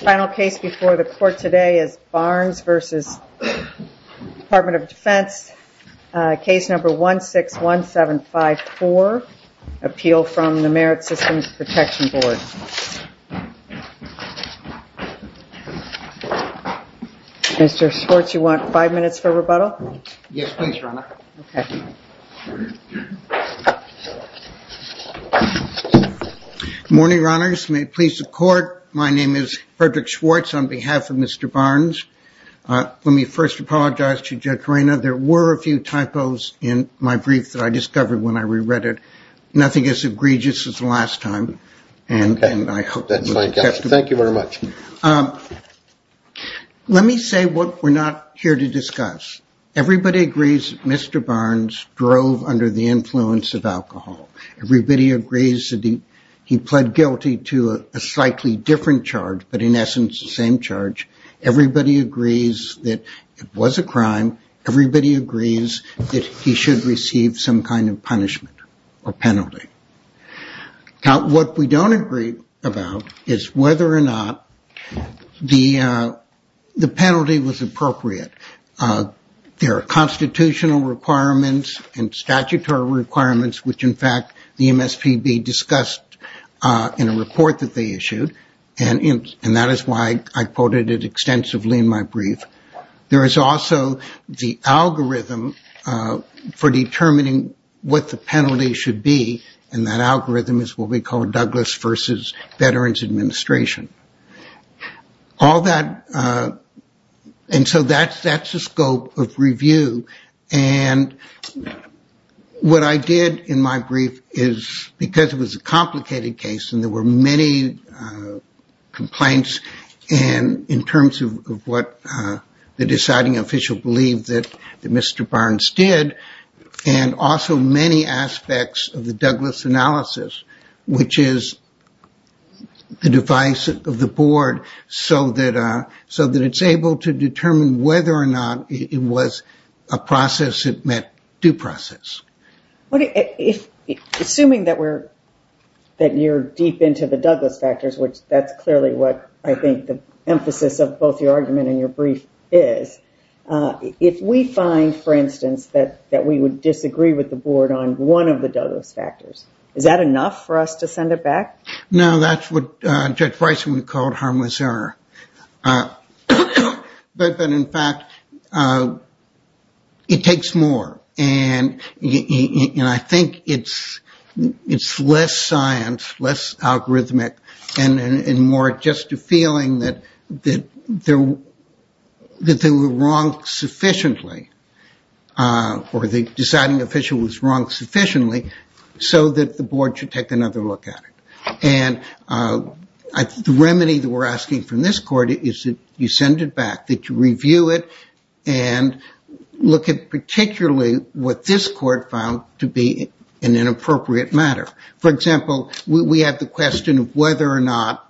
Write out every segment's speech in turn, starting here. Final case before the court today is Barnes v. Department of Defense case number 161754 Appeal from the Merit Systems Protection Board Mr. Schwartz, you want five minutes for rebuttal? Yes, please, Your Honor. Morning, Your Honors. May it please the court, my name is Frederick Schwartz on behalf of Mr. Barnes. Let me first apologize to Judge Reina. There were a few typos in my brief that I discovered when I reread it. Nothing as egregious as the last time and I hope that's my guess. Thank you very much. Let me say what we're not here to discuss. Everybody agrees Mr. Barnes drove under the influence of alcohol. Everybody agrees that he pled guilty to a slightly different charge, but in essence the same charge. Everybody agrees that it was a crime. Everybody agrees that he should receive some kind of punishment or penalty. Now what we don't agree about is whether or not the the penalty was appropriate. There are constitutional requirements and statutory requirements, which in fact the MSPB discussed in a report that they issued and that is why I quoted it extensively in my brief. There is also the algorithm for determining what the penalty should be and that algorithm is what we call Douglas versus Veterans Administration. All that and so that's that's the scope of review and what I did in my brief is because it was a complicated case and there were many complaints and in terms of what the deciding official believed that Mr. Barnes did and also many aspects of the Douglas analysis, which is the device of the board so that so that it's able to determine whether or not it was a process that met due process. Okay, if assuming that we're that you're deep into the Douglas factors, which that's clearly what I think the emphasis of both your argument and your brief is. If we find for instance that that we would disagree with the board on one of the Douglas factors is that enough for us to send it back? No, that's what Judge Bryson called harmless error. But then in fact it takes more and you know, I think it's it's less science, less algorithmic and more just a feeling that that there that they were wrong sufficiently or the deciding official was wrong sufficiently so that the board should take another look at it. And I think the remedy that we're asking from this court is that you send it back, that you review it and look at particularly what this court found to be an inappropriate matter. For example, we have the question of whether or not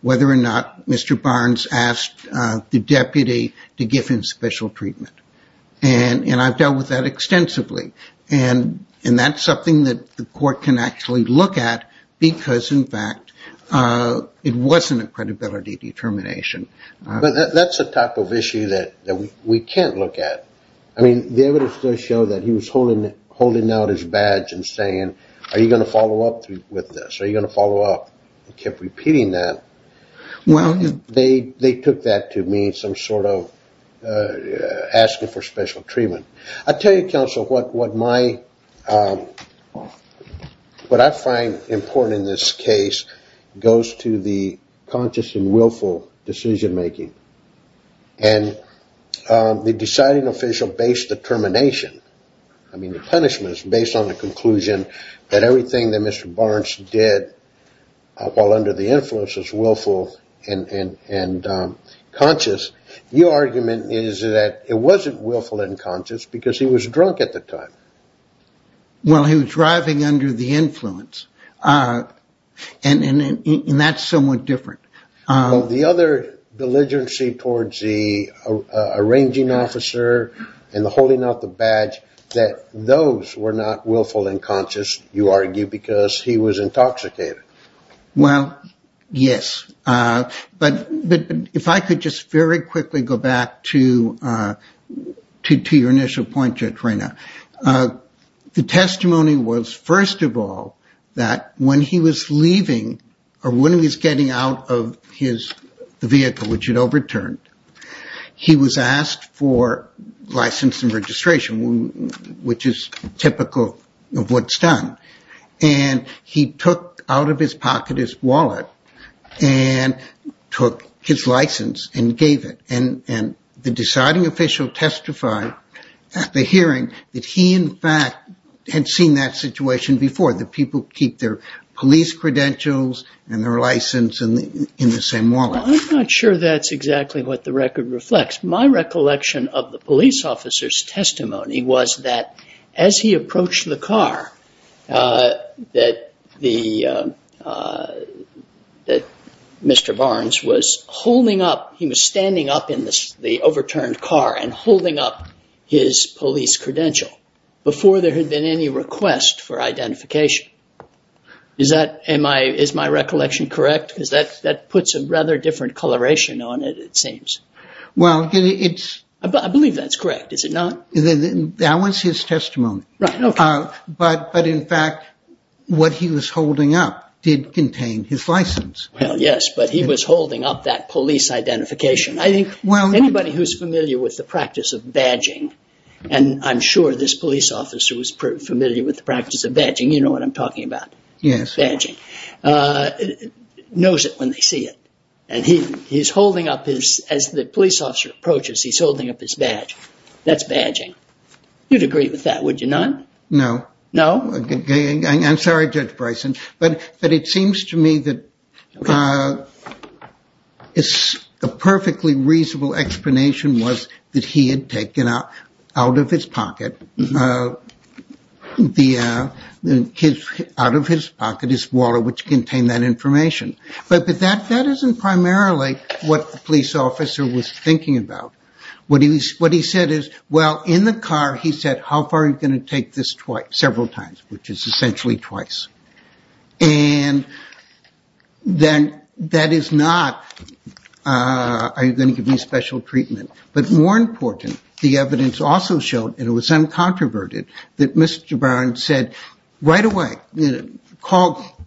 whether or not Mr. Barnes asked the deputy to give him special treatment and I've dealt with that extensively and that's something that the court can actually look at because in fact it wasn't a credibility determination. But that's a type of issue that we can't look at. I mean the evidence does show that he was holding out his badge and saying are you going to follow up with this? Are you going to follow up? He kept repeating that. Well, they took that to mean some sort of asking for special treatment. I'll tell you counsel what my what I find important in this case goes to the conscious and willful decision-making and the deciding official based determination. I mean the punishment is based on the conclusion that everything that Mr. Barnes did while under the influence is willful and conscious. Your argument is that it wasn't willful and conscious because he was drunk at the time. Well, he was driving under the influence and that's somewhat different. Well, the other belligerency towards the arranging officer and the holding out the badge that those were not willful and conscious you argue because he was intoxicated. Well, yes but if I could just very quickly go back to to your initial point, Judge Reyna. The testimony was first of all that when he was leaving or when he was getting out of his vehicle, which had overturned, he was asked for license and registration which is typical of what's done and he took out of his pocket his wallet and took his license and gave it and the deciding official testified at the hearing that he in fact had seen that situation before. The people keep their police credentials and their license and in the same wallet. I'm not sure that's exactly what the record reflects. My recollection of the police officer's testimony was that as he approached the car that the that Mr. Barnes was holding up, he was standing up in this the overturned car and holding up his police credential before there had been any request for identification. Is that, am I, is my recollection correct? Because that that puts a rather different coloration on it, it seems. Well, it's, I believe that's correct. Is it not? That was his testimony, but in fact what he was holding up did contain his license. Well, yes, but he was holding up that police identification. I think, well, anybody who's familiar with the practice of badging and I'm sure this police officer was familiar with the practice of badging. You know what I'm talking about. Yes. Badging. Knows it when they see it and he he's holding up his, as the police officer approaches, he's holding up his badge. That's badging. You'd agree with that, would you not? No. No? I'm sorry, Judge Bryson, but but it seems to me that it's a perfectly reasonable explanation was that he had taken out of his pocket the his, out of his pocket, is water which contained that information. But that that isn't primarily what the police officer was thinking about. What he, what he said is, well, in the car he said, how far are you going to take this twice, several times, which is essentially twice. And then that is not are you going to give me special treatment? But more important, the evidence also showed, and it was uncontroverted, that Mr. Byron said right away, you know, call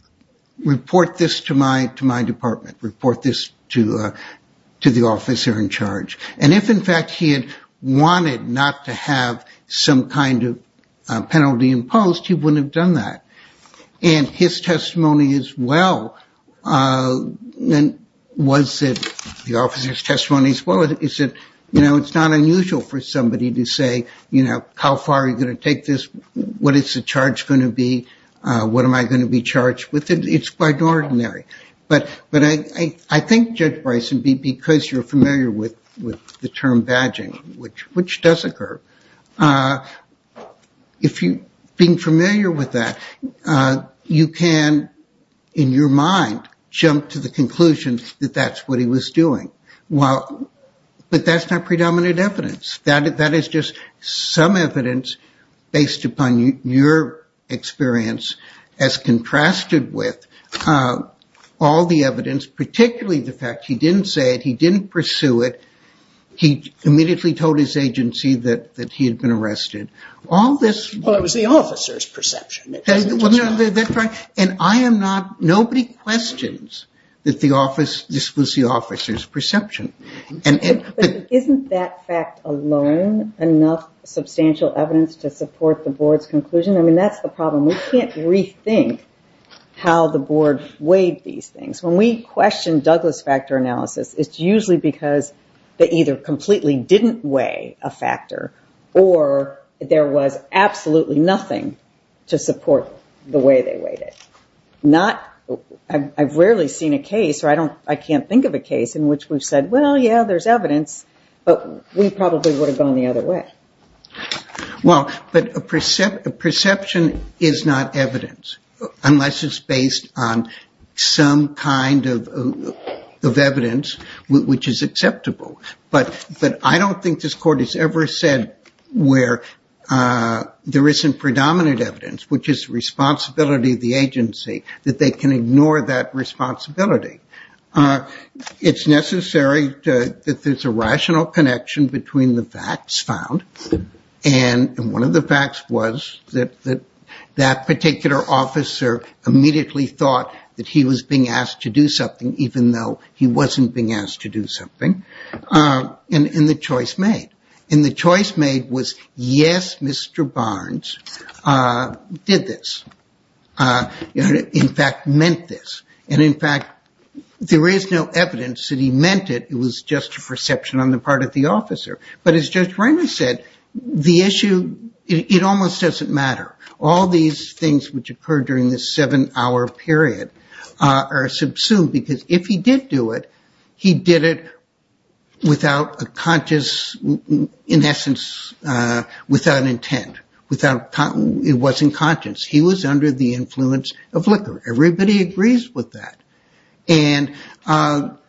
report this to my, to my department, report this to my department. And if in fact he had wanted not to have some kind of penalty imposed, he wouldn't have done that. And his testimony as well, and was it the officer's testimony as well, is that, you know, it's not unusual for somebody to say, you know, how far are you going to take this? What is the charge going to be? What am I going to be charged with? It's quite ordinary. But, but I, I think Judge Bryson, because you're familiar with, with the term badging, which, which does occur, if you, being familiar with that, you can, in your mind, jump to the conclusion that that's what he was doing. Well, but that's not predominant evidence. That, that is just some evidence based upon your experience as contrasted with all the evidence, particularly the fact he didn't say it, he didn't pursue it, he immediately told his agency that, that he had been arrested. All this... Well, it was the officer's perception. Well, that's right. And I am not, nobody questions that the office, this was the officer's perception. And isn't that fact alone enough substantial evidence to support the board's conclusion? I mean, that's the problem. We can't rethink how the board weighed these things. When we question Douglas factor analysis, it's usually because they either completely didn't weigh a factor, or there was absolutely nothing to support the way they weighed it. Not, I've rarely seen a case, or I don't, I can't think of a case in which we've said, well, yeah, there's evidence, but we probably would have gone the other way. Well, but a percept, a perception is not evidence unless it's based on some kind of, of presumption, which is acceptable. But, but I don't think this court has ever said where there isn't predominant evidence, which is the responsibility of the agency, that they can ignore that responsibility. It's necessary that there's a rational connection between the facts found, and one of the facts was that, that that particular officer immediately thought that he was being asked to do something, even though he wasn't being asked to do something, and, and the choice made. And the choice made was, yes, Mr. Barnes did this. In fact, meant this. And in fact, there is no evidence that he meant it. It was just a perception on the part of the officer. But as Judge Ramos said, the issue, it almost doesn't matter. All these things which occurred during this seven-hour period are subsumed, because if he did do it, he did it without a conscious, in essence, without intent, without, it wasn't conscious. He was under the influence of liquor. Everybody agrees with that. And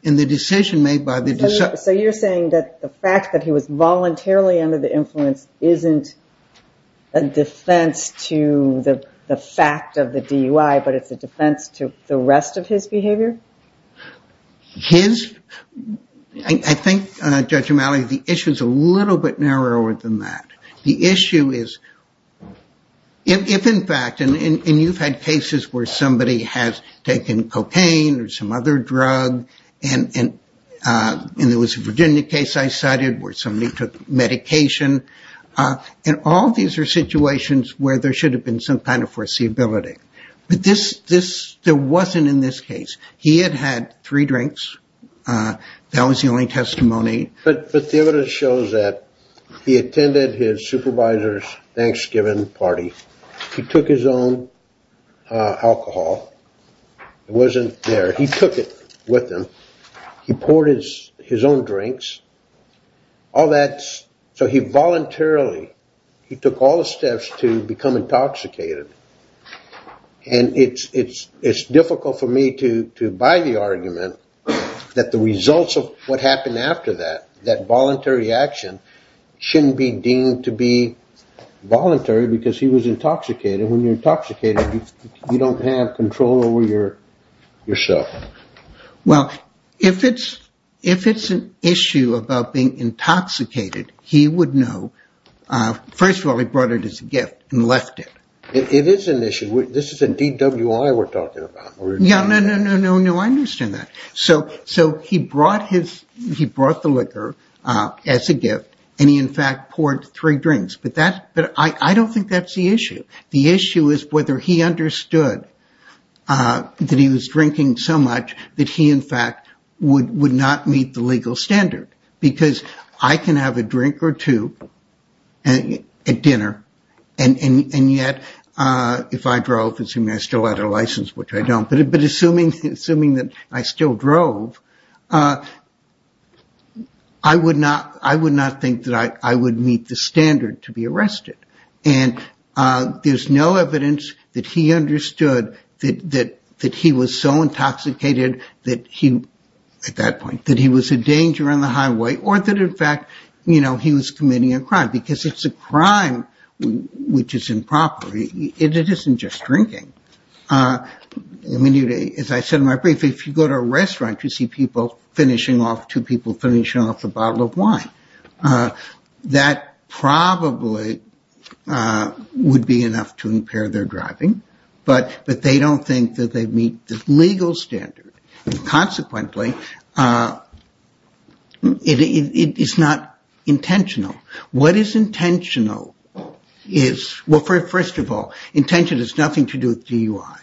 in the decision made by the... So you're saying that the fact that he was voluntarily under the influence isn't a defense to the fact of the DUI, but it's a defense to the rest of his behavior? His... I think, Judge O'Malley, the issue is a little bit narrower than that. The issue is, if, in fact, and you've had cases where somebody has taken cocaine or some other drug, and and there was a Virginia case I cited where somebody took medication, and all these are situations where there should have been some kind of foreseeability. But this, this, there wasn't in this case. He had had three drinks. That was the only testimony. But the evidence shows that he attended his supervisor's Thanksgiving party. He took his own alcohol. It wasn't there. He took it with him. He poured his own drinks. All that's, so he voluntarily, he took all the steps to become intoxicated. And it's, it's, it's difficult for me to, to buy the argument that the results of what happened after that, that voluntary action, shouldn't be deemed to be voluntary, because he was intoxicated. When you're intoxicated, you don't have control over your, yourself. Well, if it's, if it's an issue about being intoxicated, he would know. First of all, he brought it as a gift and left it. It is an issue. This is a DWI we're talking about. Yeah, no, no, no, no, no, I understand that. So, so he brought his, he brought the liquor as a gift, and he, in fact, poured three drinks. But that, but I, I don't think that's the issue. The issue is whether he understood that he was drinking so much that he, in fact, would, would not meet the legal standard, because I can have a drink or two at dinner, and, and, and yet, if I drove, assuming I still had a license, which I don't, but, but assuming, assuming that I still drove, I would not, I would not think that I, I would meet the standard to be arrested. And there's no evidence that he understood that, that, that he was so intoxicated that he, at that point, that he was a danger on the highway, or that, in fact, you know, he was committing a crime, because it's a crime which is improper. It isn't just drinking. I mean, as I said in my brief, if you go to a restaurant, you see people finishing off, two people finishing off a bottle of wine. That probably would be enough to impair their driving, but, but they don't think that they meet the legal standard. Consequently, it is not intentional. What is intentional is, well, first of all, intention has nothing to do with DUI,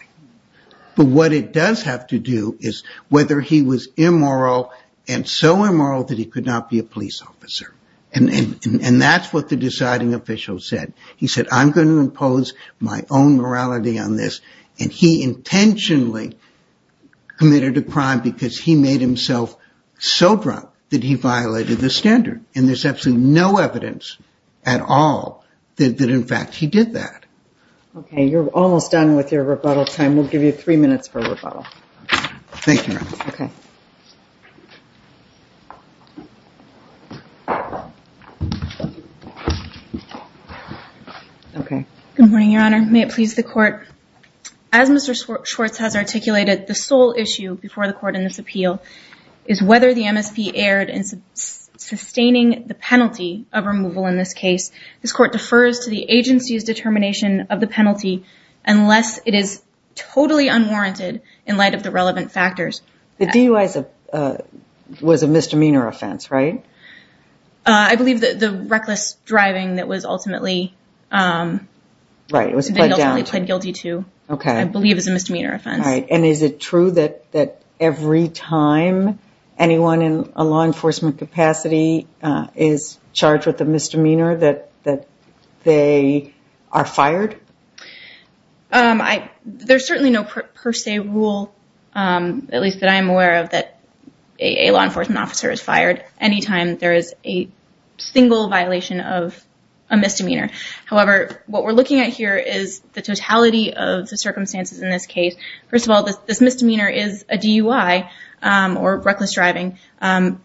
but what it does have to do is whether he was immoral, and so immoral that he could not be a police officer, and, and that's what the deciding official said. He said, I'm going to impose my own morality on this, and he intentionally committed a crime because he made himself so drunk that he violated the standard, and there's absolutely no evidence at all that, that, in fact, he did that. Okay, you're almost done with your rebuttal time. We'll give you three minutes for rebuttal. Thank you. Okay. Good morning, Your Honor. May it please the court. As Mr. Schwartz has articulated, the sole issue before the court in this appeal is whether the MSP erred in sustaining the penalty of removal in this case. This court defers to the agency's determination of the penalty unless it is totally unwarranted in light of the relevant factors. The DUI was a misdemeanor offense, right? I believe that the reckless driving that was ultimately, Right, it was played down. Okay. I believe it was a misdemeanor offense. All right, and is it true that, that every time anyone in a law enforcement capacity is charged with a misdemeanor, that, that they are fired? I, there's certainly no per se rule, at least that I am aware of, that a law enforcement officer is fired any time there is a single violation of a misdemeanor. However, what we're looking at here is the totality of the circumstances in this case. First of all, this misdemeanor is a DUI or reckless driving,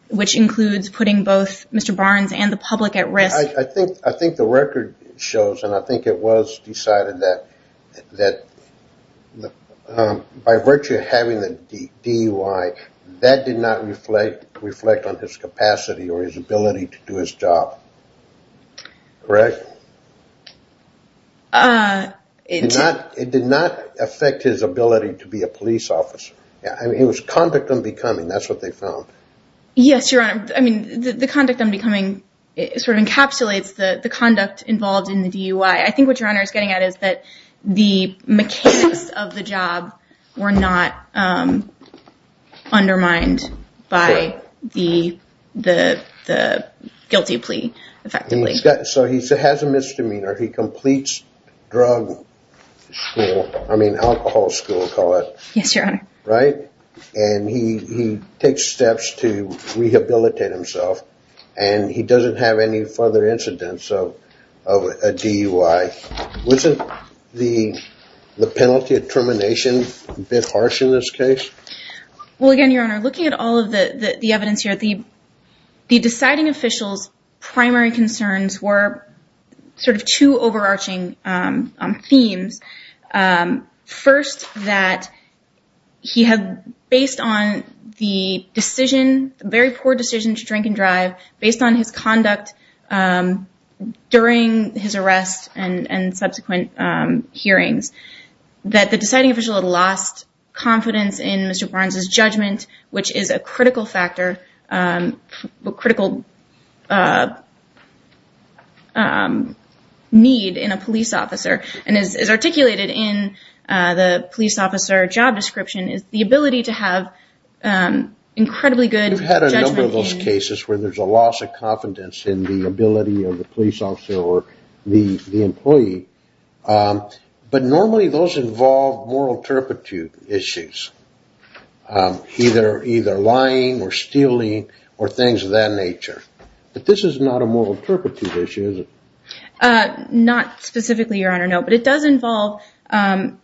which includes putting both Mr. Barnes and the public at risk. I think, I think the record shows, and I think it was decided that, that the, by virtue of having the DUI, that did not reflect, reflect on his capacity or his ability to do his job. Correct? It did not, it did not affect his ability to be a police officer. Yeah, I mean it was conduct unbecoming, that's what they found. Yes, your honor. I mean the conduct unbecoming sort of encapsulates the, the conduct involved in the DUI. I think what your honor is getting at is that the mechanics of the job were not undermined by the, the, the guilty plea effectively. So he has a misdemeanor, he completes drug school, I mean alcohol school, call it. Yes, your honor. Right, and he takes steps to rehabilitate himself, and he doesn't have any further incidents of a DUI. Wasn't the, the penalty of termination a bit harsh in this case? Well again, your honor, looking at all of the, the evidence here, the, the deciding officials primary concerns were sort of two overarching themes. First, that he had, based on the decision, very poor decision to drink and drive, based on his conduct during his arrest and, and subsequent hearings, that the deciding official had lost confidence in Mr. Barnes's judgment, which is a critical factor, critical need in a police officer, and is articulated in the police officer job description, is the ability to have incredibly good judgment. We've had a number of those cases where there's a loss of confidence in the ability of the police officer or the, the employee, but normally those involve moral turpitude issues, either, either lying or stealing or things of that nature, but this is not a moral turpitude issue, is it? Not specifically, your honor, no, but it does involve an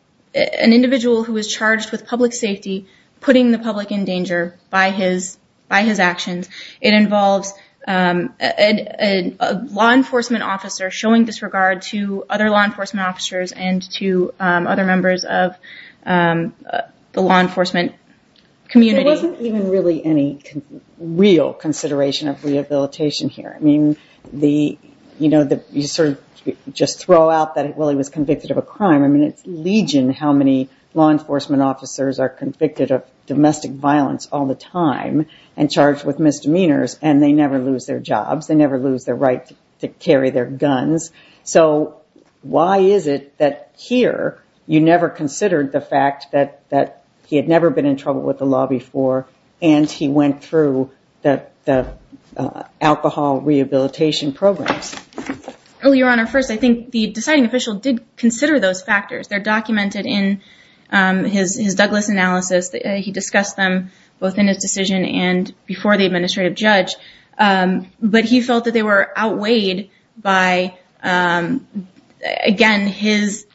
individual who is charged with public safety, putting the public in danger by his, by his actions. It involves a law enforcement officer showing disregard to other law enforcement officers and to other members of the law enforcement community. There wasn't even really any real consideration of rehabilitation here. I mean, the, you know, the, you sort of just throw out that, well, he was convicted of a crime. I mean, it's legion how many law enforcement officers are convicted of domestic violence all the time and charged with misdemeanors, and they never lose their jobs. They never lose their right to carry their guns. So why is it that here you never considered the fact that, that he had never been in trouble with the law before and he went through the, the alcohol rehabilitation programs? Well, your honor, first, I think the deciding official did consider those factors. They're documented in his, his Douglas analysis. He discussed them both in his decision and before the administrative judge, but he felt that they were outweighed by, again, his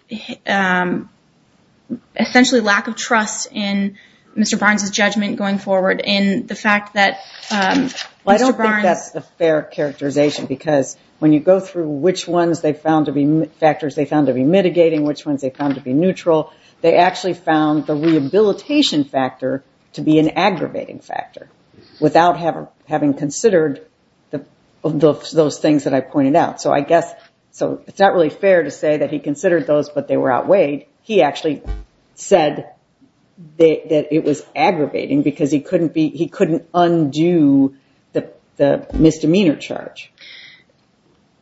essentially lack of trust in Mr. Barnes's judgment going forward and the fact that, well, I don't think that's a fair characterization because when you go through which ones they found to be, factors they found to be mitigating, which ones they found to be neutral, they actually found the rehabilitation factor to be an aggravating factor without having considered the, those things that I pointed out. So I guess, so it's not really fair to say that he considered those, but they were outweighed. He actually said that it was aggravating because he couldn't be, he couldn't undo the, the misdemeanor charge.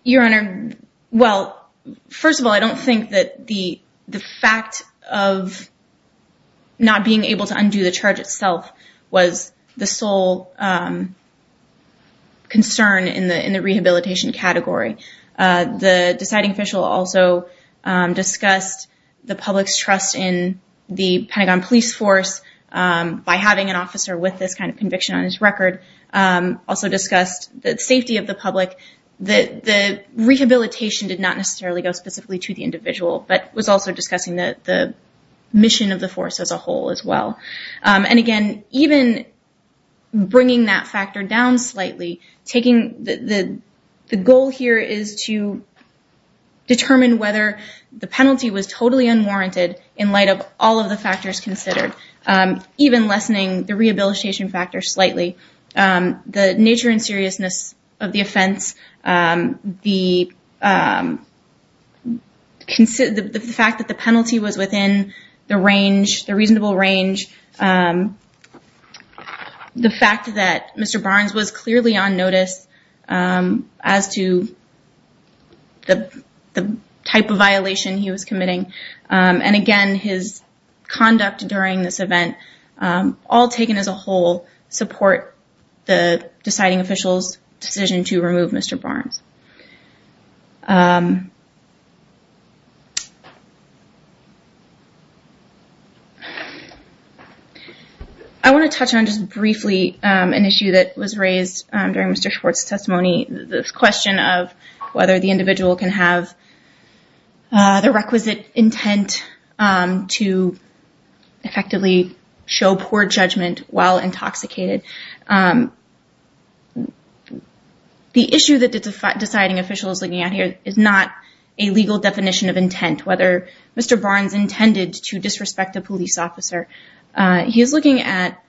Your honor, well, first of all, I don't think that the, the fact of not being able to undo the charge itself was the sole concern in the, in the rehabilitation category. The deciding official also discussed the public's trust in the Pentagon Police Force by having an officer with this kind of conviction on his record. Also discussed the safety of the public. The, the rehabilitation did not necessarily go specifically to the individual, but was also discussing that the mission of the force as a whole as well. And again, even bringing that factor down slightly, taking the, the, the goal here is to determine whether the penalty was totally unwarranted in light of all of the factors considered, even lessening the rehabilitation factor slightly. The nature and seriousness of the offense, the consider, the fact that the penalty was within the range, the reasonable range, the fact that Mr. Barnes was clearly on notice as to the, the type of violation he was committing. And again, his conduct during this event, all taken as a whole, support the deciding official's decision to remove Mr. Barnes. I want to touch on just briefly an issue that was raised during Mr. Schwartz's testimony. This question of whether the individual can have the requisite intent to effectively show poor judgment while intoxicated. The issue that the deciding official is looking at here is not a legal definition of intent, whether Mr. Barnes intended to disrespect a police officer. He is looking at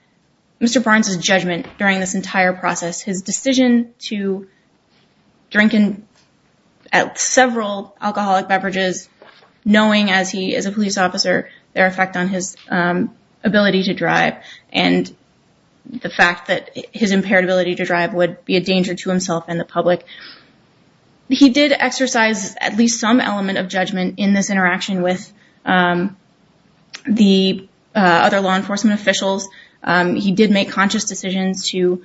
Mr. Barnes's judgment during this entire process. His decision to drink at several alcoholic beverages, knowing as he is a police officer, their effect on his ability to drive, and the fact that his impaired ability to drive would be a danger to himself and the public. He did exercise at least some element of judgment in this interaction with the other law enforcement officials. He did make conscious decisions to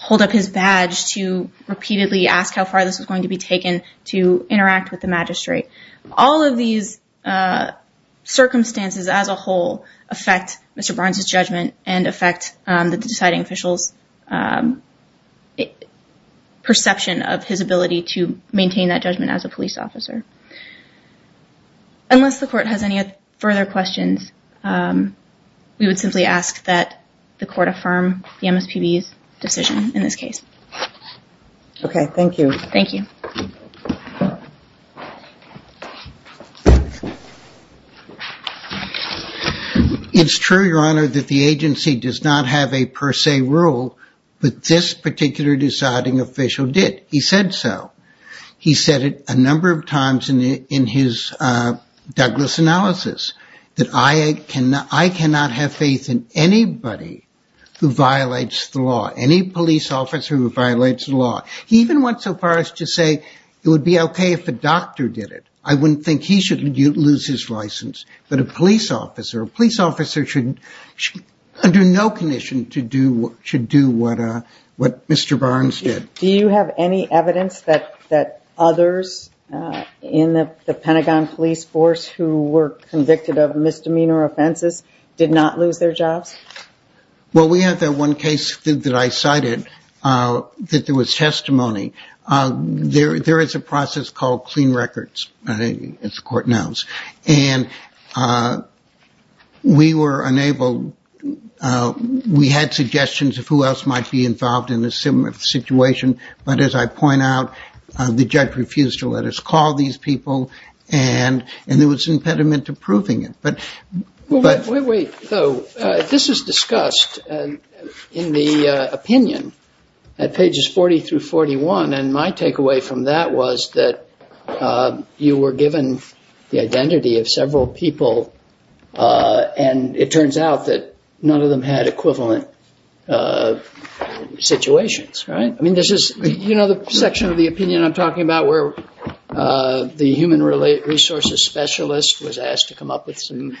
hold up his badge to repeatedly ask how far this was going to be taken to interact with the magistrate. All of these circumstances as a whole affect Mr. Barnes's judgment and affect the deciding official's perception of his ability to maintain that judgment as a police officer. Unless the court has any further questions, we would simply ask that the court affirm the MSPB's decision in this case. Okay, thank you. Thank you. It's true, Your Honor, that the agency does not have a per se rule, but this particular deciding official did. He said so. He said it a number of times in his Douglas analysis, that I cannot have faith in anybody who violates the law, any police officer who violates the law. He even went so far as to say it would be okay if a doctor did it. I wouldn't think he should lose his license, but a police officer, a police officer should, under no condition, should do what Mr. Barnes did. Do you have any evidence that others in the Pentagon police force who were convicted of misdemeanor offenses did not lose their jobs? Well, we have that one case that I cited that there was testimony. There is a process called clean records, as the court knows, and we were unable, we had suggestions of who else might be involved in a similar situation, but as I point out, the judge refused to let us call these people, and there was an impediment to proving it, but... Wait, wait, wait. This is discussed in the opinion at pages 40 through 41, and my takeaway from that was that you were given the identity of several people, and it turns out that none of them had equivalent situations, right? I mean, this is, you know, the section of the opinion I'm talking about where the human resources specialist was asked to come up with some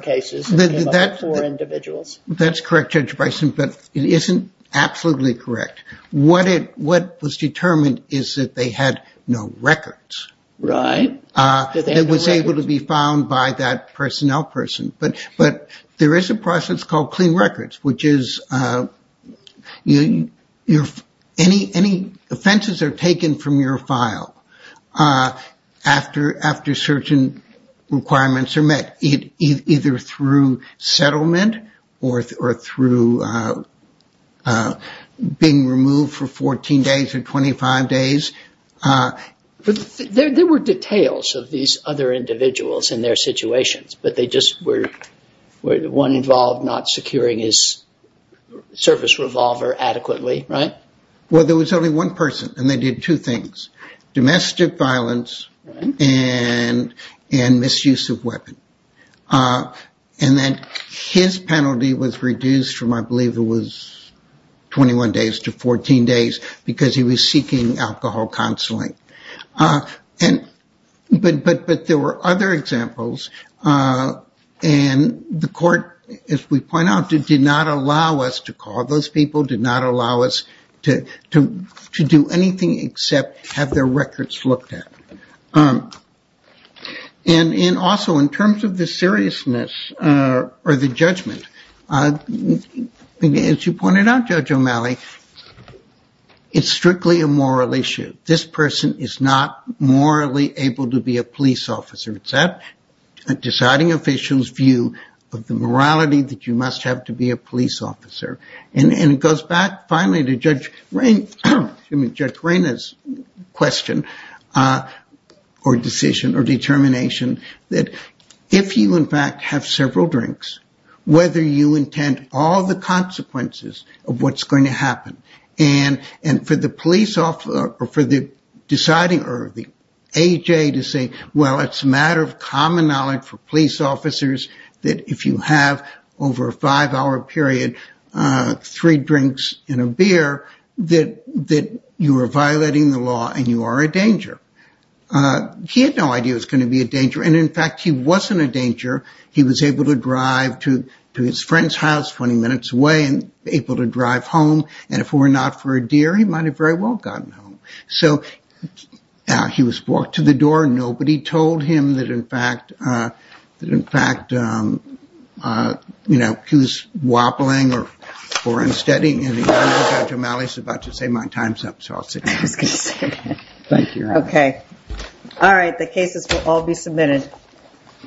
cases for individuals? That's correct, Judge Bison, but it isn't absolutely correct. What it, what was determined is that they had no records. Right. It was able to be found by that personnel person, but there is a process called clean records, which is, you know, any offenses are taken from your file after certain requirements are met, either through settlement or through being removed for 14 days or 25 days. But there were details of these other individuals in their situations, but they just were, one involved not securing his service revolver adequately, right? Well, there was only one person, and they did two things, domestic violence and misuse of weapon, and then his penalty was reduced from, I believe it was parole counseling. And, but there were other examples, and the court, as we point out, did not allow us to call those people, did not allow us to do anything except have their records looked at. And also in terms of the seriousness or the judgment, as you pointed out, Judge O'Malley, it's strictly a moral issue. This person is not morally able to be a police officer. It's that deciding official's view of the morality that you must have to be a police officer. And it goes back, finally, to Judge Reyn, I mean, Judge Reyna's question, or decision or determination, that if you, in fact, have several drinks, whether you intend all the consequences of what's going to happen, and for the police officer, for the deciding, or the AJ to say, well, it's a matter of common knowledge for police officers that if you have over a five-hour period three drinks and a beer, that you are violating the law and you are a danger. He had no idea it was going to be a danger, and in fact, he wasn't a danger. He was able to drive to his friend's house 20 minutes away and able to drive home. And if it were not for a deer, he might have very well gotten home. So he was brought to the door. Nobody told him that, in fact, that, in fact, you know, he was wobbling or unsteady. And I know Judge O'Malley's about to say my time's up, so I'll sit down. Thank you. Okay. All right, the cases will all be submitted.